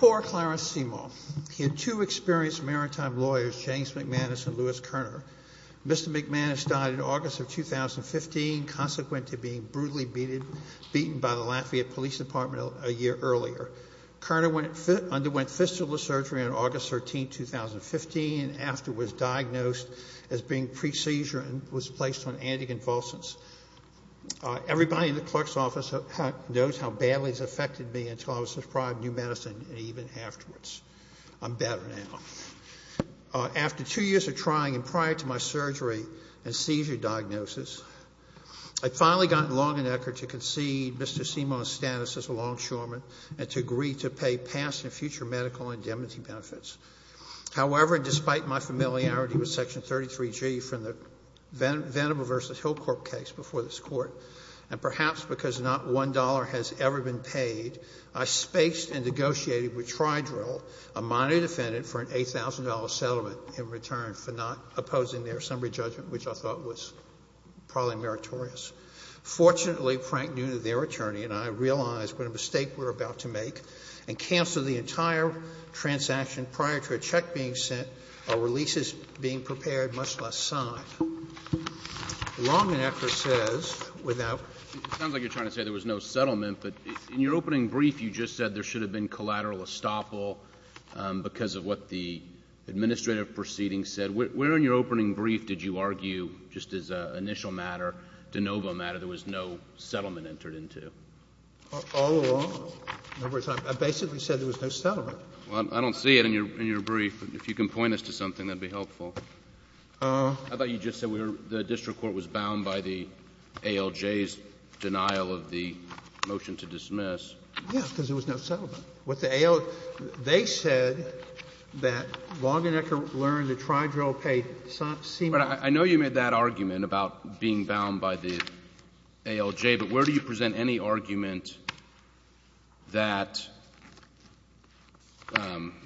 Poor Clarence Seymour. He had two experienced maritime lawyers, James McManus and Louis Kerner. Mr. McManus died in August of 2015, consequent to being brutally beaten by the Lafayette Police Department a year earlier. Kerner underwent fistula surgery on August 13, 2015, and after was diagnosed as being pre-seizure and was placed on anticonvulsants. After two years of trying, and prior to my surgery and seizure diagnosis, I had finally gotten Longnecker to concede Mr. Seymour's status as a longshoreman and to agree to pay past and future medical indemnity benefits. However, and despite my familiarity with Section 33G from the Venable v. Hill Corp. case before this Court, and perhaps because not one dollar has ever been paid, I spaced and negotiated with Tri-Drill, a minority defendant, for an $8,000 settlement in return for not opposing their summary judgment, which I thought was probably meritorious. Fortunately, Frank Nunez, their attorney, and I realized what a mistake we were about to make and canceled the entire transaction prior to a check being sent or a lease being prepared, much less signed. Longnecker says, without It sounds like you're trying to say there was no settlement, but in your opening brief you just said there should have been collateral estoppel because of what the administrative proceedings said. Where in your opening brief did you argue, just as an initial matter, de novo matter, there was no settlement entered into? All along? I basically said there was no settlement. Well, I don't see it in your brief. If you can point us to something, that would be helpful. I thought you just said the district court was bound by the ALJ's denial of the motion to dismiss. Yes, because there was no settlement. What the ALJ — they said that Longnecker learned that Tri-Drill paid — But I know you made that argument about being bound by the ALJ, but where do you present any argument that,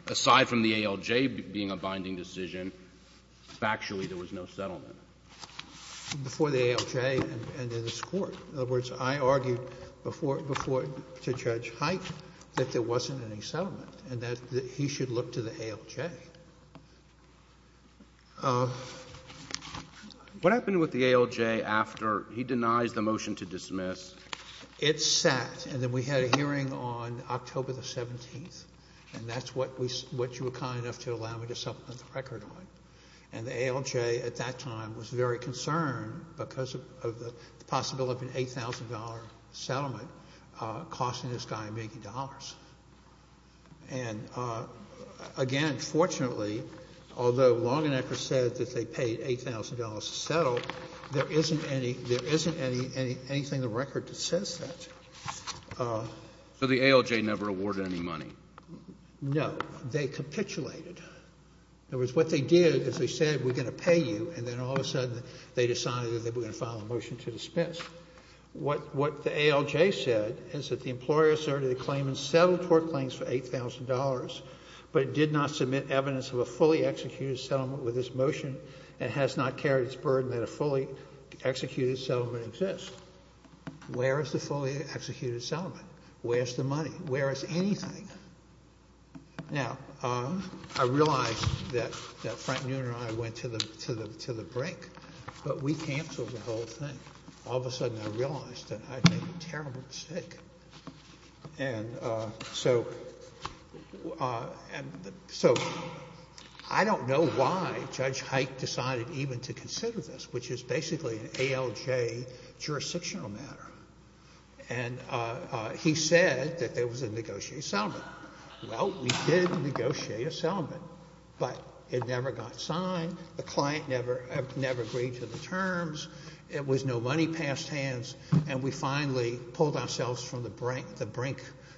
aside from the ALJ being a binding decision, factually there was no settlement? Before the ALJ and in this Court. In other words, I argued before — to Judge Height that there wasn't any settlement and that he should look to the ALJ. What happened with the ALJ after he denies the motion to dismiss? It sat, and then we had a hearing on October the 17th, and that's when you were kind enough to allow me to supplement the record on it. And the ALJ at that time was very concerned because of the possibility of an $8,000 settlement costing this guy $80,000. And again, fortunately, although Longnecker said that they paid $8,000 to settle, there isn't any — there isn't anything in the record that says that. So the ALJ never awarded any money? No. They capitulated. In other words, what they did is they said, we're going to pay you, and then all of a sudden they decided that they were going to file a motion to dismiss. What the ALJ said is that the employer asserted a claim and settled court claims for $8,000, but it did not submit evidence of a fully executed settlement with this motion and has not carried its burden that a fully executed settlement exists. Where is the fully executed settlement? Where's the money? Where is anything? Now, I realize that Frank Newner and I went to the brink, but we canceled the whole thing. All of a sudden I realized that I'd made a terrible mistake. So I don't know why Judge Hike decided even to consider this, which is basically an ALJ jurisdictional matter. And he said that there was a negotiated settlement. Well, we did negotiate a settlement, but it never got signed. The client never agreed to the terms. It was no money passed hands, and we finally pulled ourselves from the brink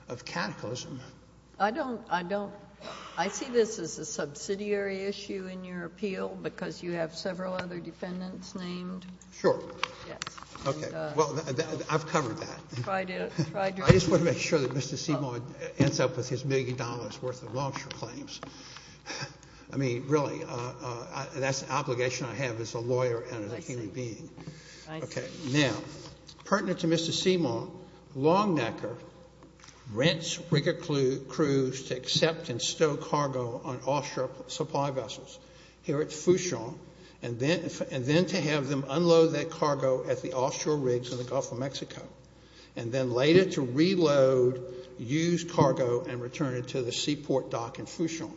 of cataclysm. I see this as a subsidiary issue in your appeal, because you have several other defendants named. Sure. Yes. Okay. Well, I've covered that. I just want to make sure that Mr. Seymour ends up with his million dollars worth of long-term claims. I mean, really, that's an obligation I have as a lawyer and as a human being. I see. Okay. Now, pertinent to Mr. Seymour, Longnecker rents rigger crews to accept and stow cargo on offshore supply vessels here at Fuchon, and then to have them unload that cargo at the offshore rigs in the Gulf of Mexico, and then later to reload used cargo and return it to the seaport dock in Fuchon.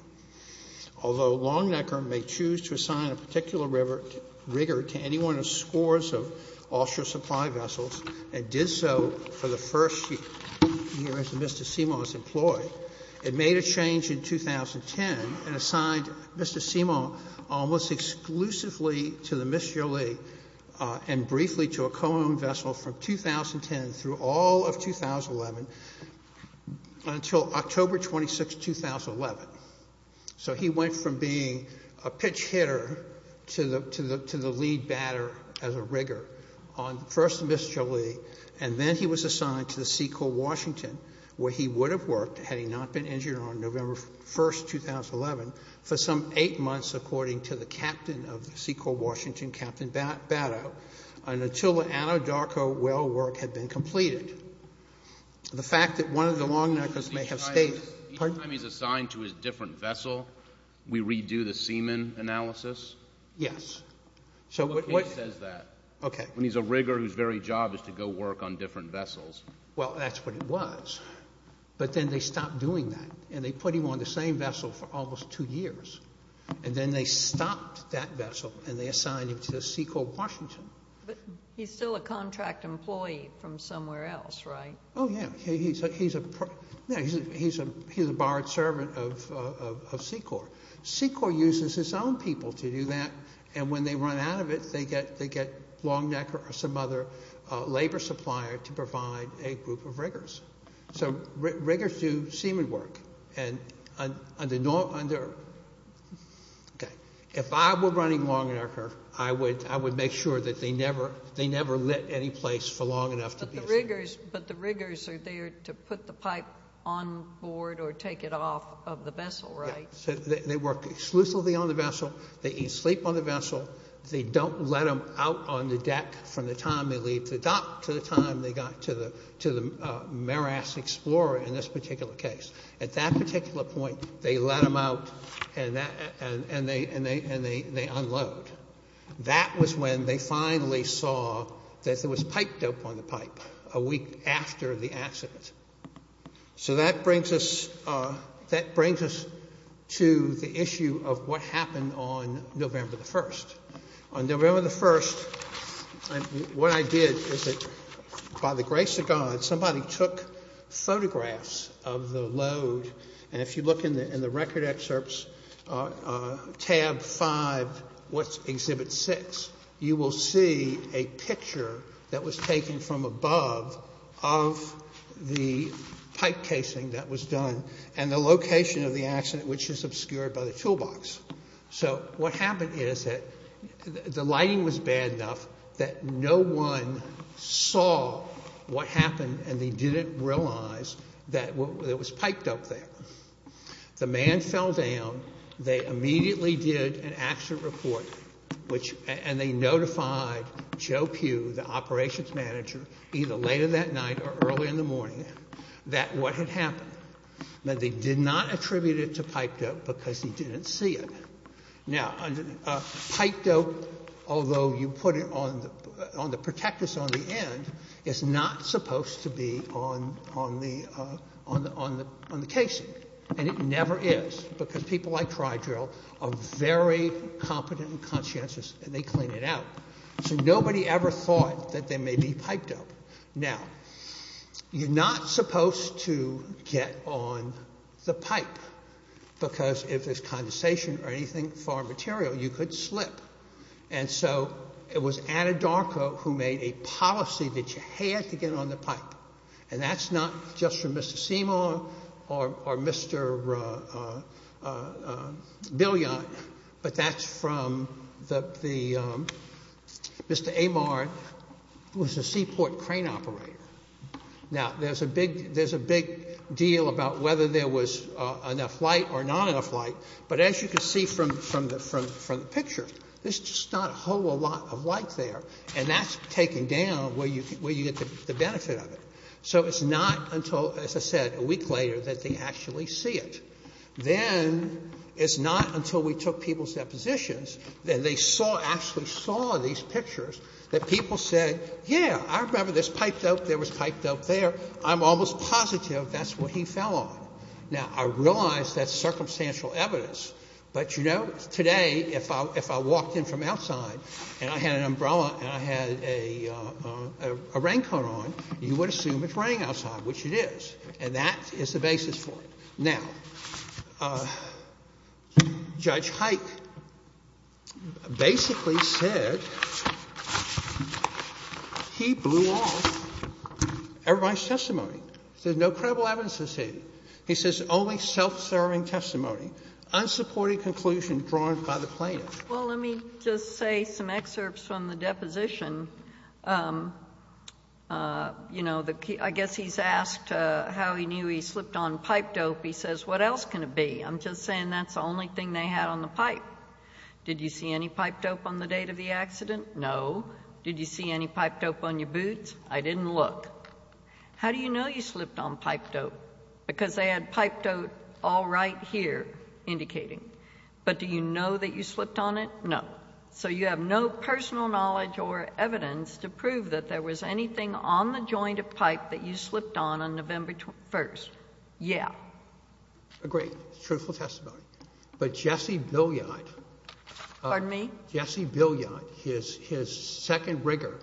Although Longnecker may choose to assign a particular rigger to any one of the scores of offshore supply vessels, and did so for the first few years that Mr. Seymour was employed, it made a change in 2010 and assigned Mr. Seymour almost exclusively to the Mister Lee and briefly to a co-owned vessel from 2010 through all of 2011 until October 26, 2011. So he went from being a pitch hitter to the owner of the Seymour to the lead batter as a rigger on first Mister Lee, and then he was assigned to the Seacole, Washington, where he would have worked had he not been injured on November 1, 2011, for some eight months according to the captain of the Seacole, Washington, Captain Batto, and until the Anadarko well work had been completed. The fact that one of the Longneckers may have stayed- Each time he's assigned to his different vessel, we redo the seaman analysis? Yes. But he says that. Okay. When he's a rigger whose very job is to go work on different vessels. Well, that's what it was, but then they stopped doing that, and they put him on the same vessel for almost two years, and then they stopped that vessel and they assigned him to Seacole, Washington. But he's still a contract employee from somewhere else, right? Oh, yeah. He's a borrowed servant of Seacole. Seacole uses his own people to do the work and to do that, and when they run out of it, they get Longnecker or some other labor supplier to provide a group of riggers. So, riggers do seaman work. If I were running Longnecker, I would make sure that they never lit any place for long enough to be a seaman. But the riggers are there to put the pipe on board or take it off of the vessel, right? They work exclusively on the vessel. They eat sleep on the vessel. They don't let them out on the deck from the time they leave the dock to the time they got to the Maras Explorer in this particular case. At that particular point, they let them out and they unload. That was when they finally saw that there was pipe dope on the pipe a week after the accident. So, let's go back to the issue of what happened on November the 1st. On November the 1st, what I did is that, by the grace of God, somebody took photographs of the load, and if you look in the record excerpts, tab five, what's exhibit six, you will see a picture that was taken from above of the pipe casing that was done and the location of the accident, which is obscured by the toolbox. So what happened is that the lighting was bad enough that no one saw what happened and they didn't realize that there was pipe dope there. The man fell down. They immediately did an accident report, and they notified Joe Pugh, the operations manager, either later that night or early in the morning, that what had happened, that they did not attribute it to pipe dope because he didn't see it. Now, pipe dope, although you put it on the protectors on the end, is not supposed to be on the casing, and it never is, because people like Crydrill are very competent and conscientious and they clean it out. So nobody ever thought that there may be pipe dope. Now, you're not supposed to get on the pipe, because if there's condensation or anything foreign material, you could slip. And so it was Anadarko who made a policy that you had to get on the pipe, and that's not just from Mr. Seymour or Mr. Billion, but that's from the Mr. Amard, who was a seaport crane operator. Now, there's a big deal about whether there was enough light or not enough light, but as you can see from the picture, there's just not a whole lot of light there, and that's taken down where you get the benefit of it. So it's not until, as I said, a week later that they actually see it. Then it's not until we took people's depositions that they saw, actually saw these pictures, that people said, yeah, I remember there's pipe dope, there was pipe dope there, I'm almost positive that's what he fell on. Now, I realize that's circumstantial evidence, but you know, today, if I walked in from outside and I had an umbrella and I had a raincoat on, you would assume it's raining outside, which it is, and that is the basis for it. Now, Judge Hike basically said he blew off everybody's testimony. He said there's no credible evidence associated. He says only self-serving testimony, unsupported conclusion drawn by the plaintiff. JUSTICE GINSBURG Well, let me just say some excerpts from the deposition. You know, I guess he's asked how he knew he slipped on pipe dope. He says, what else can it be? I'm just saying that's the only thing they had on the pipe. Did you see any pipe dope on the date of the accident? No. Did you see any pipe dope on your boots? I didn't look. How do you know you slipped on pipe dope? Because they had pipe dope all right here indicating. But do you know that you slipped on it? No. So you have no personal knowledge or evidence to prove that there was anything on the joint of pipe that you slipped on on November 1st. Yeah. JUSTICE SOTOMAYOR Agreed. Truthful testimony. But Jesse Billiard, his second rigger,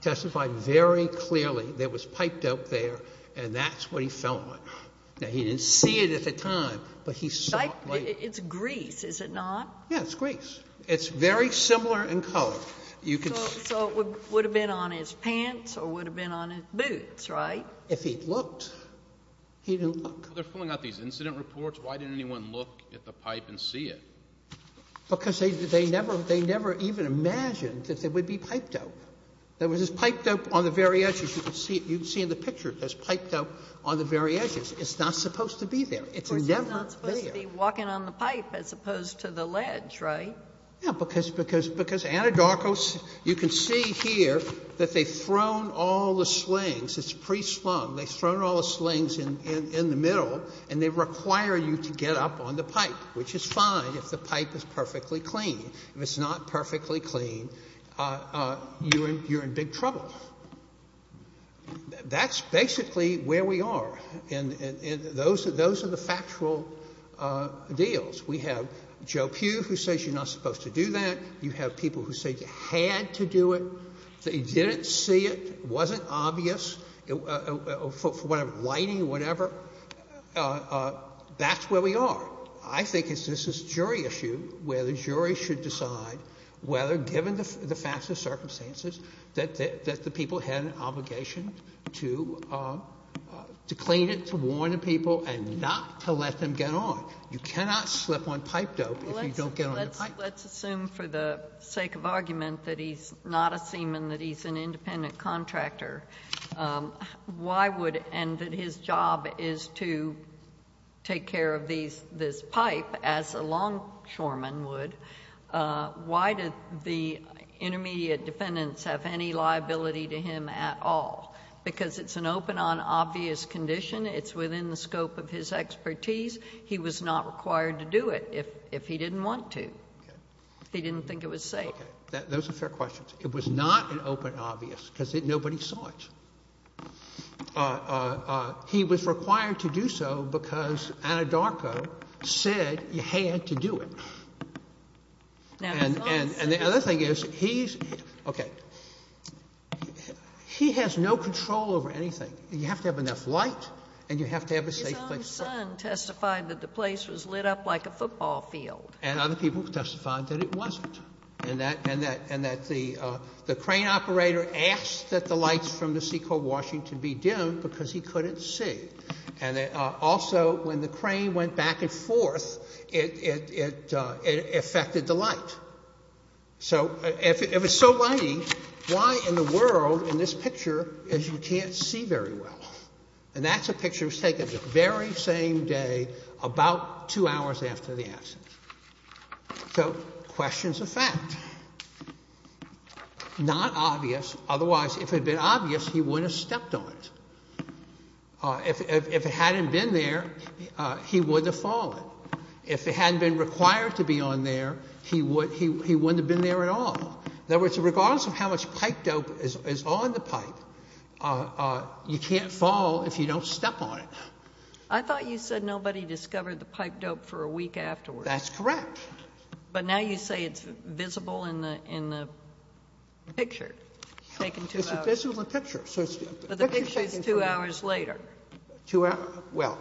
testified very clearly there was pipe dope there and that's what he fell on. Now, he didn't see it at the time, but he saw it later. JUSTICE GINSBURG It's grease, is it not? JUSTICE SOTOMAYOR Yeah, it's grease. It's very similar in color. JUSTICE GINSBURG So it would have been on his pants or would have been on his boots, JUSTICE SOTOMAYOR If he'd looked, he didn't look. JUSTICE KEITH They're pulling out these incident reports. Why didn't anyone look at the pipe and see it? JUSTICE SOTOMAYOR Because they never even imagined that there would be pipe dope. There was pipe dope on the very edges. You can see in the picture there's pipe dope on the very edges. It's not supposed to be there. It's never been there. JUSTICE GINSBURG It's supposed to be walking on the pipe as opposed to the ledge, right? JUSTICE SOTOMAYOR Yeah, because Anadarkos, you can see here that they've thrown all the slings. It's pre-slung. They've thrown all the slings in the middle and they require you to get up on the pipe, which is fine if the pipe is perfectly clean. If it's not perfectly clean, you're in big trouble. That's basically where we are. Those are the factual deals. We have Joe Pugh who says you're not supposed to do that. You have people who say you had to do it. They didn't see it. It wasn't obvious for whatever, lighting, whatever. That's where we are. I think it's just this jury issue where the jury should decide whether, given the facts and circumstances, that the people had an obligation to clean it, to warn the people, and not to let them get on. You cannot slip on pipe dope if you don't get on the pipe. JUSTICE GINSBURG Let's assume for the sake of argument that he's not a seaman, that he's an independent contractor. Why would, and that his job is to take care of this pipe as a longshoreman would, why did the intermediate defendants have any liability to him at all? Because it's an open on obvious condition. It's within the scope of his expertise. He was not required to do it if he didn't want to. He didn't think it was safe. JUSTICE SOTOMAYOR Okay. Those are fair questions. It was not an open obvious because nobody saw it. He was required to do so because Anadarko said you had to do it. JUSTICE GINSBURG Now, he's not a seaman. JUSTICE SOTOMAYOR Okay. He has no control over anything. You have to have enough light and you have to have a safe place to work. JUSTICE SOTOMAYOR His own son testified that the place was lit up like a football field. JUSTICE SOTOMAYOR And other people testified that it wasn't. And that the crane operator asked that the lights from the Seacoast Washington be dimmed because he couldn't see. And also when the crane went back and forth, it affected the light. So it was so lighting, why in the world in this picture is you can't see very well? And that's a picture that was taken the very same day about two hours after the accident. So questions of fact. Not obvious. Otherwise, if it had been obvious, he wouldn't have stepped on it. If it hadn't been there, he wouldn't have fallen. If it hadn't been required to be on there, he wouldn't have been there at all. In other words, regardless of how much pipe dope is on the pipe, you can't fall if you don't step on it. JUSTICE GINSBURG I thought you said nobody discovered the pipe dope for a week afterwards. JUSTICE SOTOMAYOR That's correct. JUSTICE GINSBURG But now you say it's visible in the picture. JUSTICE SOTOMAYOR It's visible in the picture. JUSTICE GINSBURG But the picture is two hours later. JUSTICE SOTOMAYOR Well,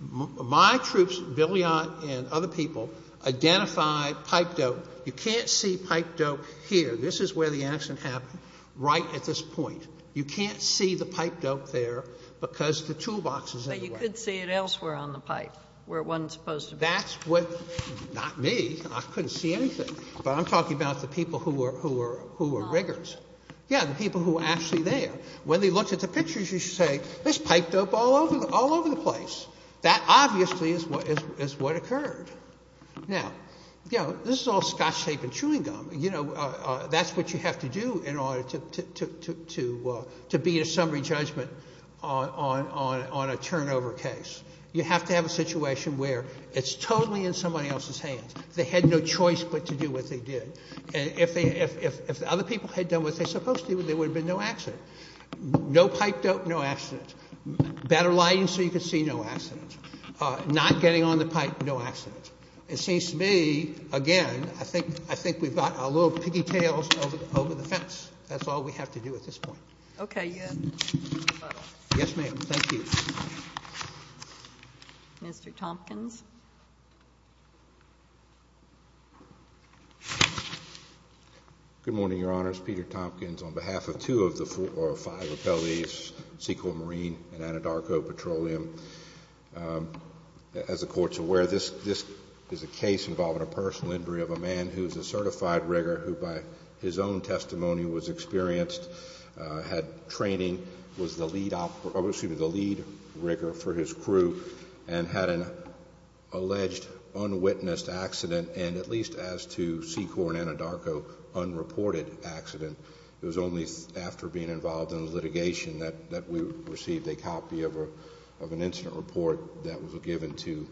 my troops, Billion and other people, identified pipe dope. You can't see pipe dope here. This is where the accident happened, right at this point. You can't see the pipe dope there because the toolbox is in the way. JUSTICE GINSBURG But you could see it elsewhere on the pipe where it wasn't supposed to be. JUSTICE SOTOMAYOR That's what — not me. I couldn't see anything. JUSTICE SOTOMAYOR But I'm talking about the people who were rigors. JUSTICE SOTOMAYOR Yeah, the people who were actually there. When they looked at the pictures, you should say, this is pipe dope all over the place. That obviously is what occurred. Now, this is all scotch tape and chewing gum. That's what you have to do in order to beat a summary judgment on a turnover case. You have to have a situation where it's totally in somebody else's hands. They had no choice but to do what they did. And if other people had done what they're supposed to do, there would have been no accident. No pipe dope, no accident. Better lighting so you could see, no accident. Not getting on the pipe, no accident. It seems to me, again, I think we've got our little piggy tails over the fence. That's all we have to do at this point. JUSTICE GINSBURG Okay. JUSTICE SOTOMAYOR Yes, ma'am. Thank you. JUSTICE GINSBURG Mr. Tompkins. MR. TOMPKINS Good morning, Your Honors. Peter Tompkins on behalf of two of the four or five appellees, Sequel Marine and Anadarko Petroleum. As the Court's aware, this is a case involving a personal injury of a man who is a certified rigger who by his own testimony was experienced, had training, was the lead rigger for his crew and had an alleged unwitnessed accident and at least as to Sequel and Anadarko, unreported accident. It was only after being involved in litigation that we received a copy of an incident report that was given to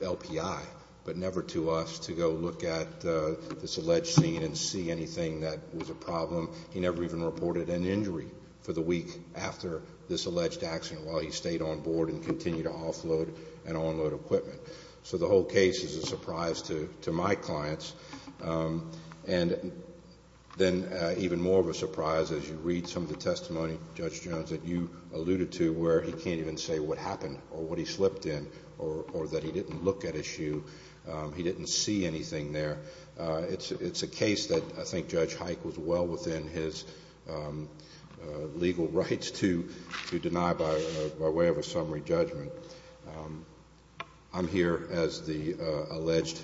LPI but never to us to go look at this alleged scene and see anything that was a problem. He never even reported an injury for the week after this alleged accident while he stayed on board and continued to offload and unload equipment. So the whole case is a surprise to my clients and then even more of a surprise as you read some of the testimony, Judge Jones, that you alluded to where he can't even say what happened or what he slipped in or that he didn't look at his shoe, he didn't see anything there. It's a case that I think Judge Hike was well within his legal rights to deny by way of a summary judgment. I'm here as the alleged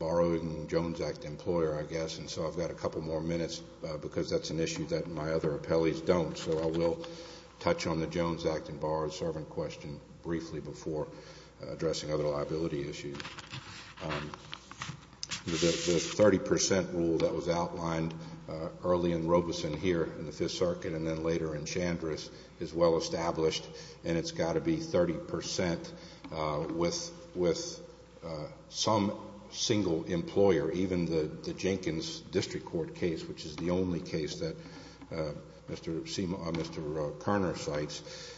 borrowing Jones Act employer, I guess, and so I've got a couple more minutes because that's an issue that my other appellees don't. So I will touch on the Jones Act and borrowed liability issue. The 30% rule that was outlined early in Robeson here in the Fifth Circuit and then later in Chandris is well established and it's got to be 30% with some single employer, even the Jenkins District Court case, which is the only case that Mr. Carner cites,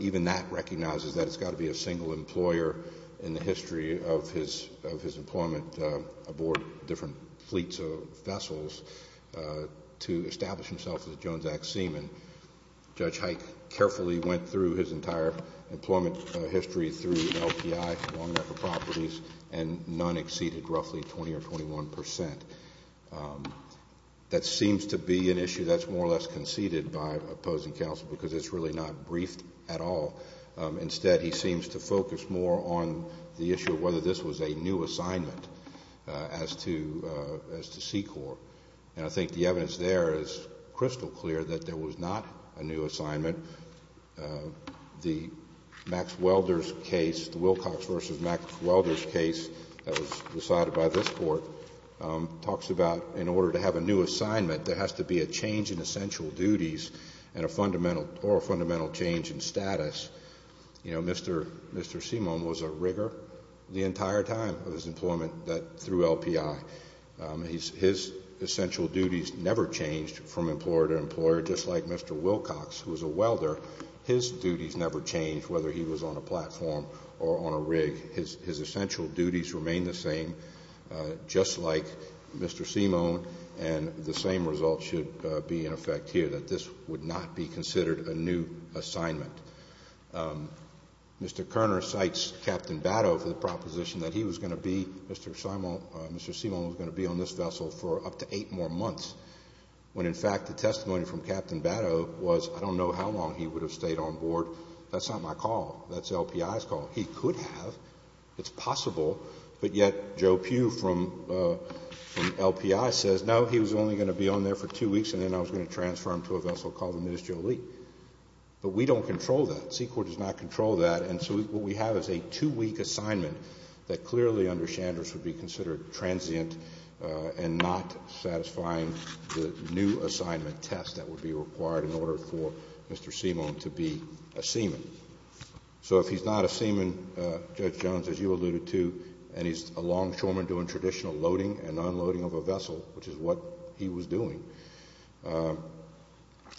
even that recognizes that it's got to be a single employer in the history of his employment aboard different fleets of vessels to establish himself as a Jones Act seaman. Judge Hike carefully went through his entire employment history through an LPI, long record properties, and none exceeded roughly 20 or 21%. That seems to be an issue that's more or less conceded by opposing counsel because it's really not briefed at all. Instead, he seems to focus more on the issue of whether this was a new assignment as to SECOR. And I think the evidence there is crystal clear that there was not a new assignment. The Max Welder's case, the Wilcox v. Max Welder's case that was decided by this Court, talks about in order to have a new assignment, there has to be a change in essential duties or a fundamental change in status. You know, Mr. Seamone was a rigger the entire time of his employment through LPI. His essential duties never changed from employer to employer, just like Mr. Wilcox, who was a welder, his duties never changed whether he was on a platform or on a rig. His essential duties remained the same, just like Mr. Seamone, and the same result should be in effect here, that this would not be considered a new assignment. Mr. Kerner cites Captain Batto for the proposition that he was going to be, Mr. Seamone was going to be on this vessel for up to eight more months, when in fact the testimony from Captain Batto was, I don't know how long he would have stayed on board, that's not my call, that's LPI's call. He could have, it's possible, but yet Joe Pugh from LPI says, no, he was only going to be on there for two weeks and then I was going to transfer him to a vessel called the Ministerial League. But we don't control that, C-Corps does not control that, and so what we have is a two-week assignment that clearly under Chandra's would be considered transient and not satisfying the new assignment test that would be required in order for Mr. Seamone to be a seaman. So if he's not a seaman, Judge Jones, as you alluded to, and he's a longshoreman doing traditional loading and unloading of a vessel, which is what he was doing,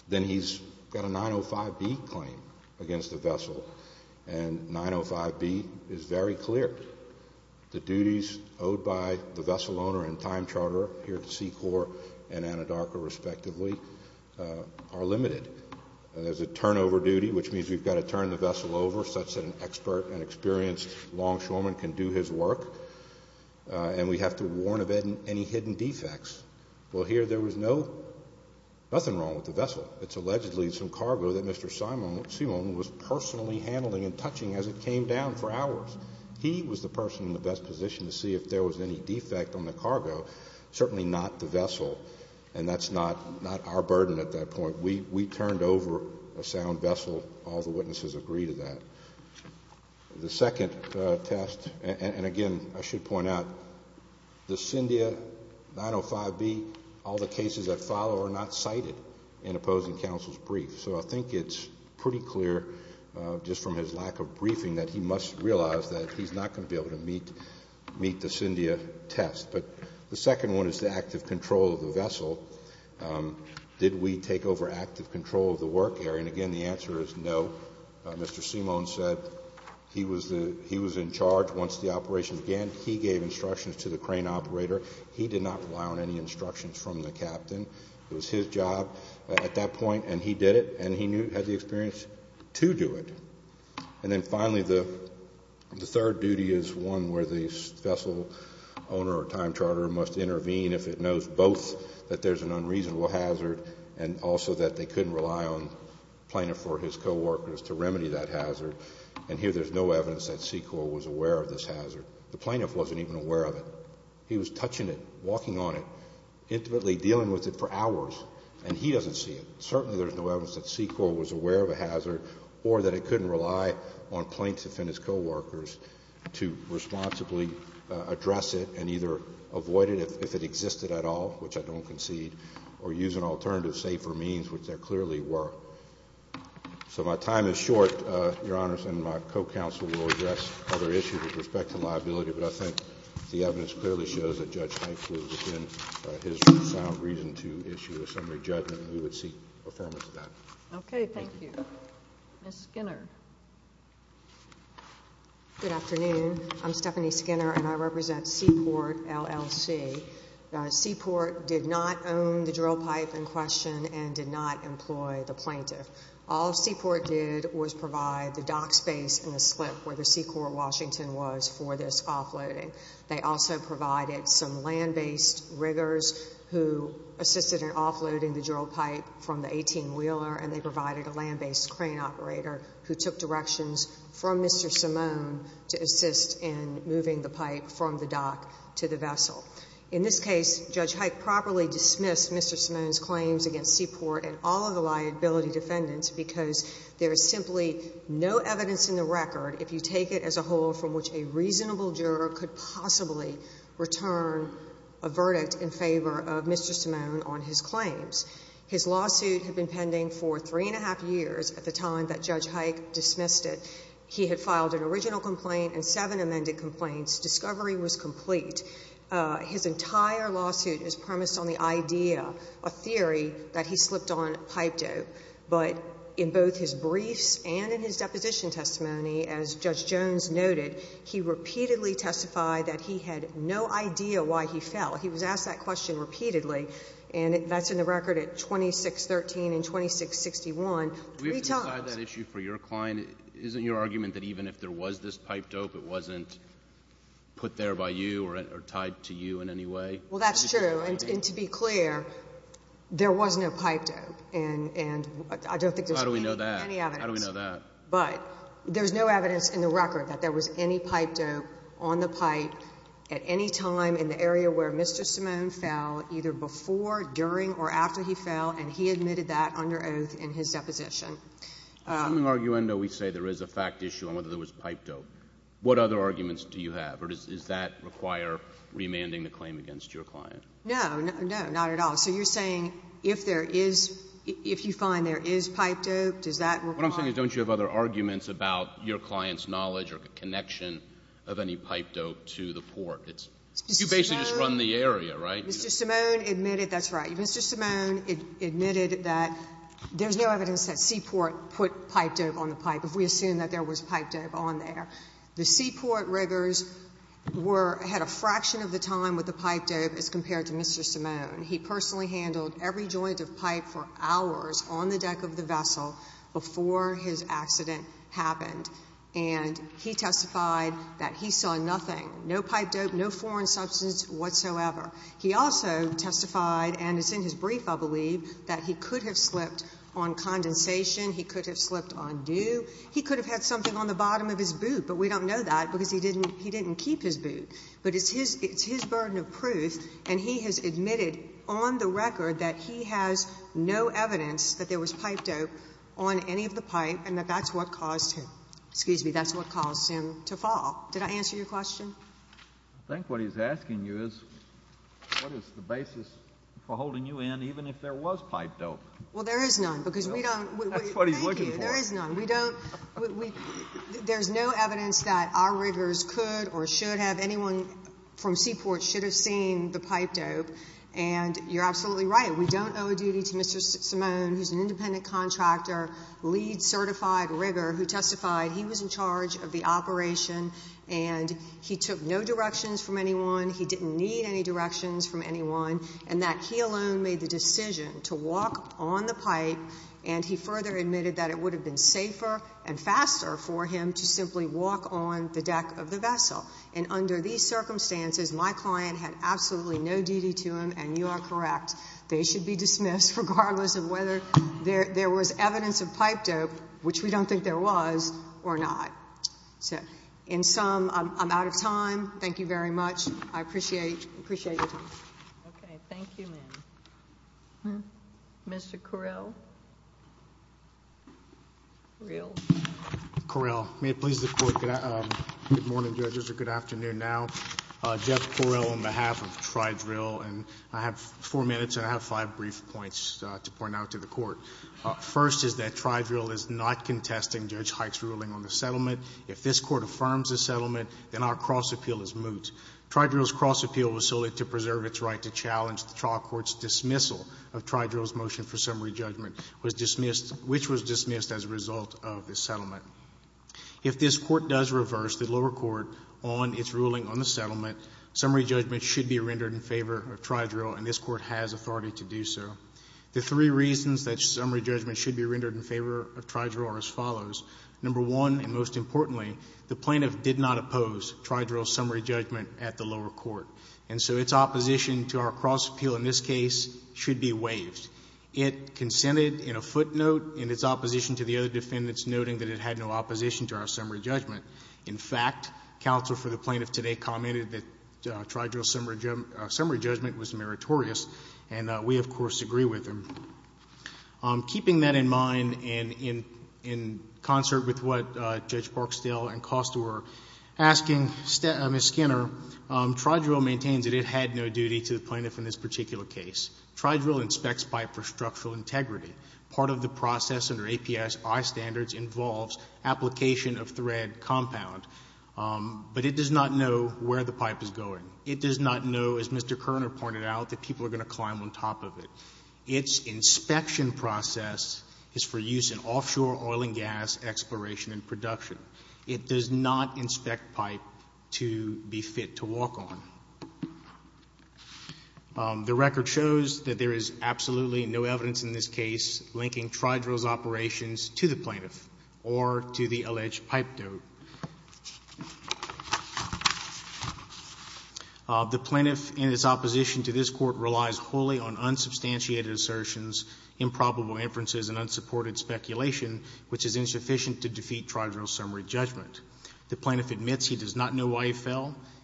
then he's got a 905B claim against the vessel, and 905B is very clear. The duties owed by the vessel owner and time are limited. There's a turnover duty, which means we've got to turn the vessel over such that an expert and experienced longshoreman can do his work, and we have to warn of any hidden defects. Well, here there was nothing wrong with the vessel. It's allegedly some cargo that Mr. Seamone was personally handling and touching as it came down for hours. He was the person in the best position to see if there was any defect on the cargo, certainly not the vessel, and that's not our burden at that point. We turned over a sound vessel. All the witnesses agree to that. The second test, and again I should point out, the Cyndia 905B, all the cases that follow are not cited in opposing counsel's brief, so I think it's pretty clear just from his lack of briefing that he must realize that he's not going to be able to meet the Cyndia test. But the second one is the active control of the vessel. Did we take over active control of the work area? And again, the answer is no. Mr. Seamone said he was in charge once the operation began. He gave instructions to the crane operator. He did not rely on any instructions from the captain. It was his job at that point, and he did it, and he had the experience to do it. And then finally, the third duty is one where the vessel owner or time charter must intervene if it knows both that there's an unreasonable hazard and also that they couldn't rely on the plaintiff or his co-workers to remedy that hazard, and here there's no evidence that SECOR was aware of this hazard. The plaintiff wasn't even aware of it. He was touching it, walking on it, intimately dealing with it for hours, and he doesn't see it. Certainly there's no evidence that SECOR was aware of a hazard or that it couldn't rely on plaintiff and his co-workers to responsibly address it and either avoid it if it existed at all, which I don't concede, or use an alternative, safer means, which there clearly were. So my time is short, Your Honors, and my co-counsel will address other issues with respect to liability, but I think the evidence clearly shows that Judge Heintz was within his sound reason to issue a summary judgment, and we would seek affirmance of that. Okay, thank you. Ms. Skinner. Good afternoon. I'm Stephanie Skinner, and I represent Seaport, LLC. Seaport did not own the drill pipe in question and did not employ the plaintiff. All Seaport did was provide the dock space and the slip where the SECOR Washington was for this offloading. They also provided some land-based riggers who assisted in offloading the drill pipe from the 18-wheeler, and they provided a land-based crane operator who took directions from Mr. Simone to assist in moving the pipe from the dock to the vessel. In this case, Judge Heintz properly dismissed Mr. Simone's claims against Seaport and all of the liability defendants because there is simply no evidence in the record, if you take it as a whole, from which a reasonable juror could possibly return a verdict in favor of Mr. Simone on his claims. His lawsuit had been pending for three and a half years at the time that Judge Heintz dismissed it. He had filed an original complaint and seven amended complaints. Discovery was complete. His entire lawsuit is premised on the idea, a theory, that he slipped on pipe dope, but in both his briefs and in his deposition testimony, as Judge Jones noted, he repeatedly testified that he had no idea why he fell. He was asked that question repeatedly, and that's in the record at 2613 and 2661, three times. We have to decide that issue for your client. Isn't your argument that even if there was this pipe dope, it wasn't put there by you or tied to you in any way? Well, that's true, and to be clear, there was no pipe dope, and I don't think there's any evidence. How do we know that? How do we know that? But there's no evidence in the record that there was any pipe dope on the pipe at any time in the area where Mr. Simone fell, either before, during, or after he fell, and he admitted that under oath in his deposition. Assuming, arguendo, we say there is a fact issue on whether there was pipe dope, what other arguments do you have, or does that require remanding the claim against your client? No, no, not at all. So you're saying if there is, if you find there is pipe dope, does that require Otherwise, don't you have other arguments about your client's knowledge or connection of any pipe dope to the port? You basically just run the area, right? Mr. Simone admitted, that's right. Mr. Simone admitted that there's no evidence that Seaport put pipe dope on the pipe if we assume that there was pipe dope on there. The Seaport riggers were, had a fraction of the time with the pipe dope as compared to Mr. Simone. He personally handled every joint of pipe for hours on the deck of the ship until his accident happened, and he testified that he saw nothing, no pipe dope, no foreign substance whatsoever. He also testified, and it's in his brief I believe, that he could have slipped on condensation, he could have slipped on dew, he could have had something on the bottom of his boot, but we don't know that because he didn't, he didn't keep his boot. But it's his, it's his burden of proof, and he has admitted on the record that he has no evidence that there was pipe dope on any of the pipe and that that's what caused him, excuse me, that's what caused him to fall. Did I answer your question? I think what he's asking you is, what is the basis for holding you in even if there was pipe dope? Well, there is none because we don't, thank you, there is none. That's what he's looking for. We don't, we, there's no evidence that our riggers could or should have, anyone from Seaport should have seen the pipe dope. And you're absolutely right, we don't owe a duty to Mr. Simone, who's an independent contractor, lead certified rigger who testified he was in charge of the operation and he took no directions from anyone, he didn't need any directions from anyone, and that he alone made the decision to walk on the pipe and he further admitted that it would have been safer and faster for him to simply walk on the deck of the vessel. And under these circumstances, my client had absolutely no duty to him and you are correct. They should be dismissed regardless of whether there was evidence of pipe dope, which we don't think there was, or not. So, in sum, I'm out of time. Thank you very much. I appreciate your time. Okay. Thank you, ma'am. Mr. Correll? Correll. Correll. May it please the Court. Good morning, judges, or good afternoon now. Jeff Correll on behalf of Tri-Drill and I have four minutes and I have five brief points to point out to the Court. First is that Tri-Drill is not contesting Judge Hike's ruling on the settlement. If this Court affirms the settlement, then our cross appeal is moot. Tri-Drill's cross appeal was solely to preserve its right to challenge the trial Court's dismissal of Tri-Drill's motion for summary judgment, which was dismissed as a result of the settlement. If this Court does reverse the lower court on its ruling on the settlement, summary judgment should be rendered in favor of Tri-Drill and this Court has authority to do so. The three reasons that summary judgment should be rendered in favor of Tri-Drill are as follows. Number one, and most importantly, the plaintiff did not oppose Tri-Drill's summary judgment at the lower court, and so its opposition to our cross appeal in this case should be waived. It consented in a footnote in its opposition to the other defendants, noting that it had no opposition to our summary judgment. In fact, counsel for the plaintiff today commented that Tri-Drill's summary judgment was meritorious, and we, of course, agree with him. Keeping that in mind, and in concert with what Judge Barksdale and Costa were asking Ms. Skinner, Tri-Drill maintains that it had no duty to the plaintiff in this particular case. Tri-Drill inspects by it for structural integrity. Part of the process under APSI standards involves application of thread compound, but it does not know where the pipe is going. It does not know, as Mr. Kerner pointed out, that people are going to climb on top of it. Its inspection process is for use in offshore oil and gas exploration and production. It does not inspect pipe to be fit to walk on. The record shows that there is absolutely no evidence in this case linking Tri-Drill's operations to the plaintiff or to the alleged pipe dote. The plaintiff, in its opposition to this court, relies wholly on unsubstantiated assertions, improbable inferences, and unsupported speculation, which is insufficient to defeat Tri-Drill's summary judgment.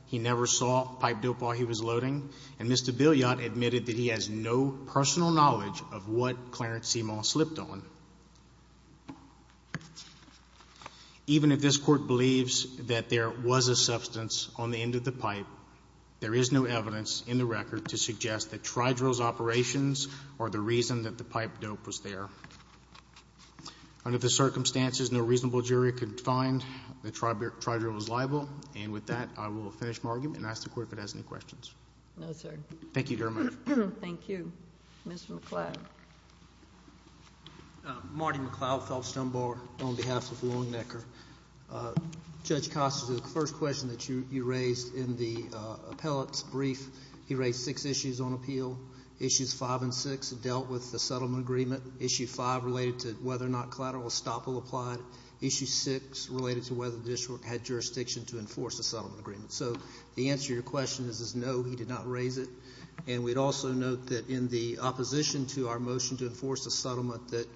He never saw pipe dope while he was loading, and Mr. Billiot admitted that he has no personal knowledge of what Clarence Simon slipped on. Even if this court believes that there was a substance on the end of the pipe, there is no evidence in the record to suggest that Tri-Drill's operations are the reason that the pipe dope was there. Under the circumstances, no reasonable jury could find that Tri-Drill was involved. We will finish my argument and ask the court if it has any questions. No, sir. Thank you, Your Honor. Thank you. Mr. McCloud. Marty McCloud, Phelps Dunbar, on behalf of Longnecker. Judge Costa, the first question that you raised in the appellate's brief, he raised six issues on appeal. Issues five and six dealt with the settlement agreement. Issue five related to whether or not collateral estoppel applied. Issue six related to whether the district had jurisdiction to enforce a settlement agreement. So the answer to your question is no, he did not raise it. And we'd also note that in the opposition to our motion to enforce a settlement that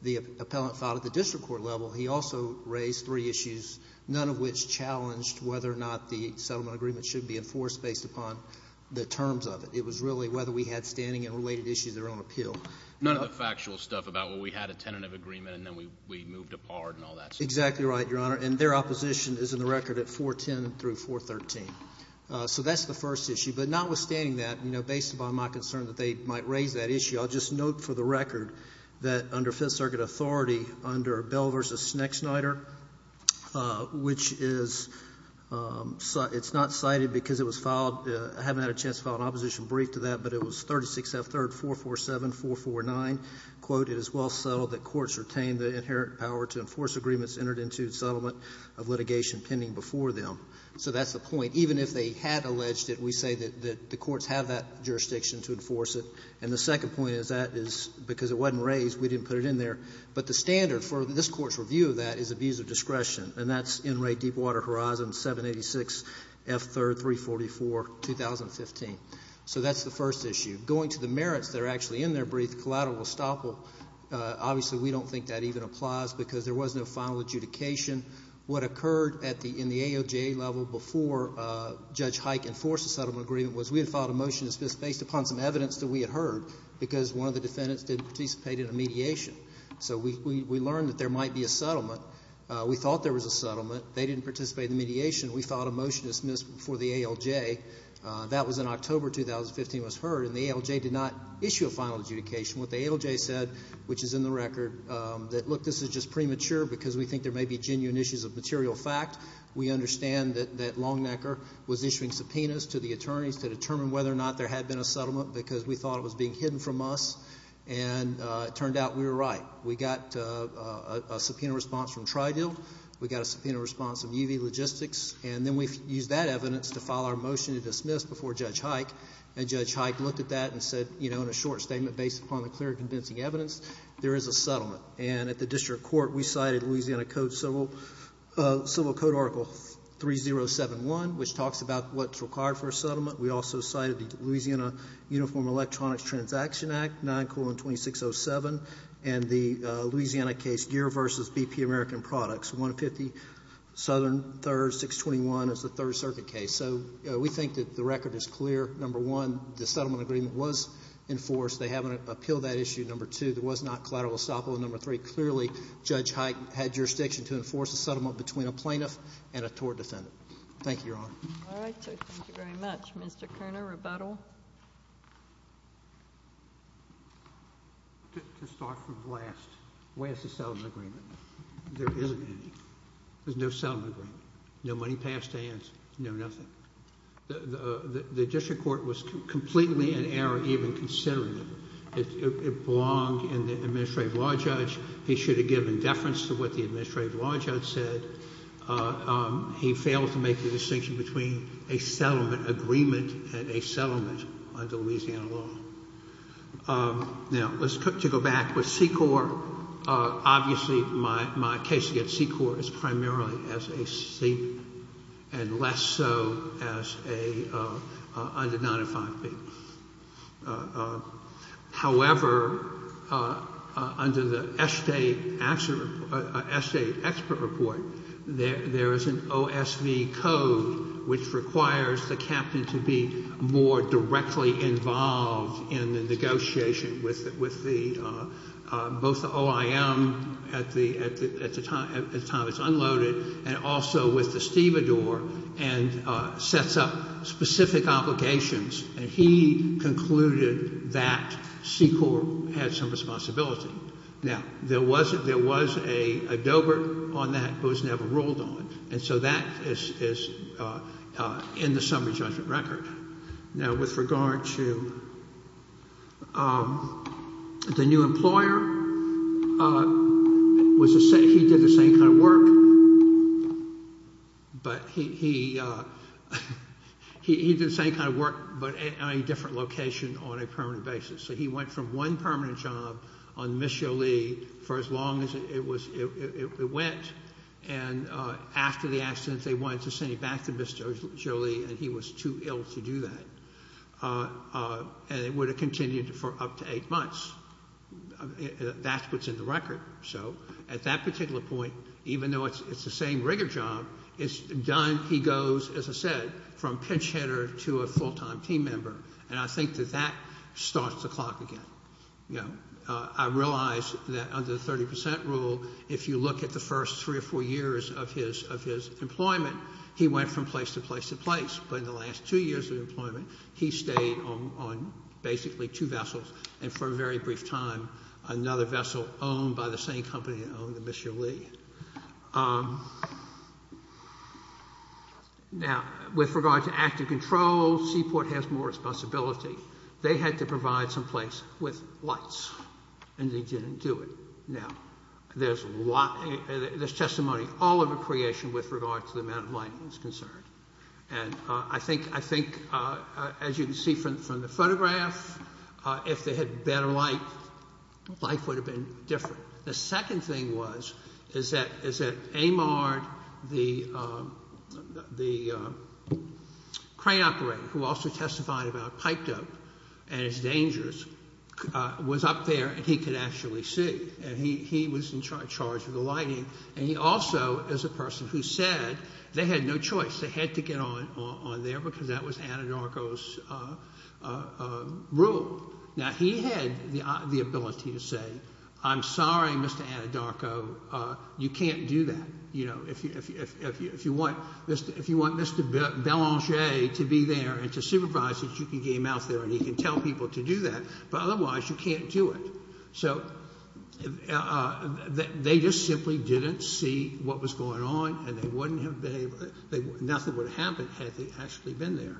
the appellant filed at the district court level, he also raised three issues, none of which challenged whether or not the settlement agreement should be enforced based upon the terms of it. It was really whether we had standing and related issues that are on appeal. None of the factual stuff about, well, we had a tentative agreement and then we moved apart and all that stuff. Exactly right, Your Honor. And their opposition is in the record at 410 through 413. So that's the first issue. But notwithstanding that, you know, based upon my concern that they might raise that issue, I'll just note for the record that under Fifth Circuit authority, under Bell v. Schneckschneider, which is not cited because it was filed, I haven't had a chance to file an opposition brief to that, but it was 36F3rd447449, quote, it is well settled that courts retain the inherent power to enforce agreements entered into the settlement of litigation pending before them. So that's the point. Even if they had alleged it, we say that the courts have that jurisdiction to enforce it. And the second point is that is because it wasn't raised, we didn't put it in there. But the standard for this court's review of that is abuse of discretion, and that's NRA Deepwater Horizon 786F3rd3442015. So that's the first issue. Going to the merits that are actually in their brief, collateral estoppel, obviously we don't think that even applies because there was no final adjudication. What occurred in the ALJ level before Judge Hike enforced the settlement agreement was we had filed a motion to dismiss based upon some evidence that we had heard because one of the defendants didn't participate in a mediation. So we learned that there might be a settlement. We thought there was a settlement. They didn't participate in the mediation. We filed a motion to dismiss before the ALJ. That was in October 2015 was heard. And the ALJ did not issue a final adjudication. What the ALJ said, which is in the record, that, look, this is just premature because we think there may be genuine issues of material fact. We understand that Longnecker was issuing subpoenas to the attorneys to determine whether or not there had been a settlement because we thought it was being hidden from us. And it turned out we were right. We got a subpoena response from Tridel. We got a subpoena response from UV Logistics. And then we used that evidence to file our motion to dismiss before Judge Hike. And Judge Hike looked at that and said, you know, in a short statement, based upon the clear and convincing evidence, there is a settlement. And at the district court, we cited Louisiana Code Civil Code Article 3071, which talks about what's required for a settlement. We also cited the Louisiana Uniform Electronics Transaction Act, 9-2607, and the Louisiana case Gear v. BP American Products, 150 Southern 3rd, 621, as the Third Circuit case. So we think that the record is clear. Number one, the settlement agreement was enforced. They haven't appealed that issue. Number two, there was not collateral estoppel. And number three, clearly Judge Hike had jurisdiction to enforce a settlement between a plaintiff and a tort defendant. Thank you, Your Honor. All right. Thank you very much. Mr. Kerner, rebuttal. To start from the last, where's the settlement agreement? There isn't any. There's no settlement agreement. No money passed to hands. No nothing. The district court was completely in error even considering it. It belonged in the Administrative Law Judge. He should have given deference to what the Administrative Law Judge said. He failed to make the distinction between a settlement agreement and a settlement under Louisiana law. Now, to go back with C-Corps, obviously my case against C-Corps is primarily as a state and less so as under 905B. However, under the estate expert report, there is an OSV code, which requires the captain to be more directly involved in the negotiation with both the OIM at the time it's unloaded and also with the stevedore and sets up specific obligations. And he concluded that C-Corps had some responsibility. Now, there was a dobert on that, but it was never ruled on. And so that is in the summary judgment record. Now, with regard to the new employer, he did the same kind of work, but at a different location on a permanent basis. So he went from one permanent job on Miss Jolie for as long as it went, and after the accident they wanted to send him back to Miss Jolie, and he was too ill to do that. And it would have continued for up to eight months. That's what's in the record. So at that particular point, even though it's the same rigor job, it's done. He goes, as I said, from pinch hitter to a full-time team member, and I think that that starts the clock again. I realize that under the 30% rule, if you look at the first three or four years of his employment, he went from place to place to place. But in the last two years of employment, he stayed on basically two vessels, and for a very brief time another vessel owned by the same company that owned Miss Jolie. Now, with regard to active control, Seaport has more responsibility. They had to provide some place with lights, and they didn't do it. Now, there's testimony all over creation with regard to the amount of lighting that's concerned, and I think, as you can see from the photograph, if they had better light, life would have been different. The second thing was that Amard, the crane operator, who also testified about pipe dope and its dangers, was up there and he could actually see, and he was in charge of the lighting. And he also is a person who said they had no choice. They had to get on there because that was Anadarko's rule. Now, he had the ability to say, I'm sorry, Mr. Anadarko, you can't do that. You know, if you want Mr. Belanger to be there and to supervise it, you can get him out there and he can tell people to do that, but otherwise you can't do it. So they just simply didn't see what was going on, and nothing would have happened had they actually been there.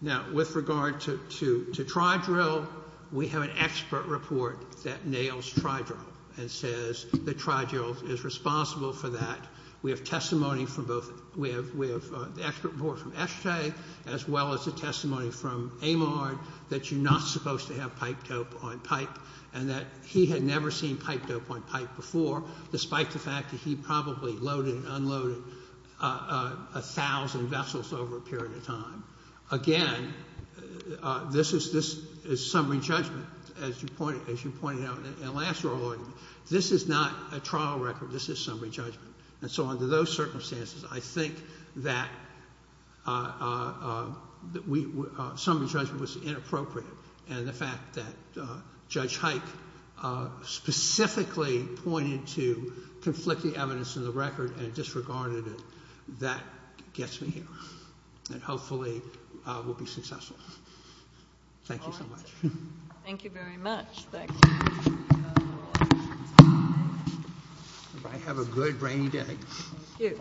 Now, with regard to Tri-Drill, we have an expert report that nails Tri-Drill and says that Tri-Drill is responsible for that. We have testimony from both, we have the expert report from Eshetay as well as the testimony from Amard that you're not supposed to have pipe dope on pipe and that he had never seen pipe dope on pipe before, despite the fact that he probably loaded and unloaded 1,000 vessels over a period of time. Again, this is summary judgment, as you pointed out in the last oral argument. This is not a trial record. This is summary judgment. And so under those circumstances, I think that summary judgment was inappropriate, and the fact that Judge Hike specifically pointed to conflicting evidence in the record and disregarded it, that gets me here and hopefully will be successful. Thank you so much. Thank you very much. Have a good, rainy day. Thank you.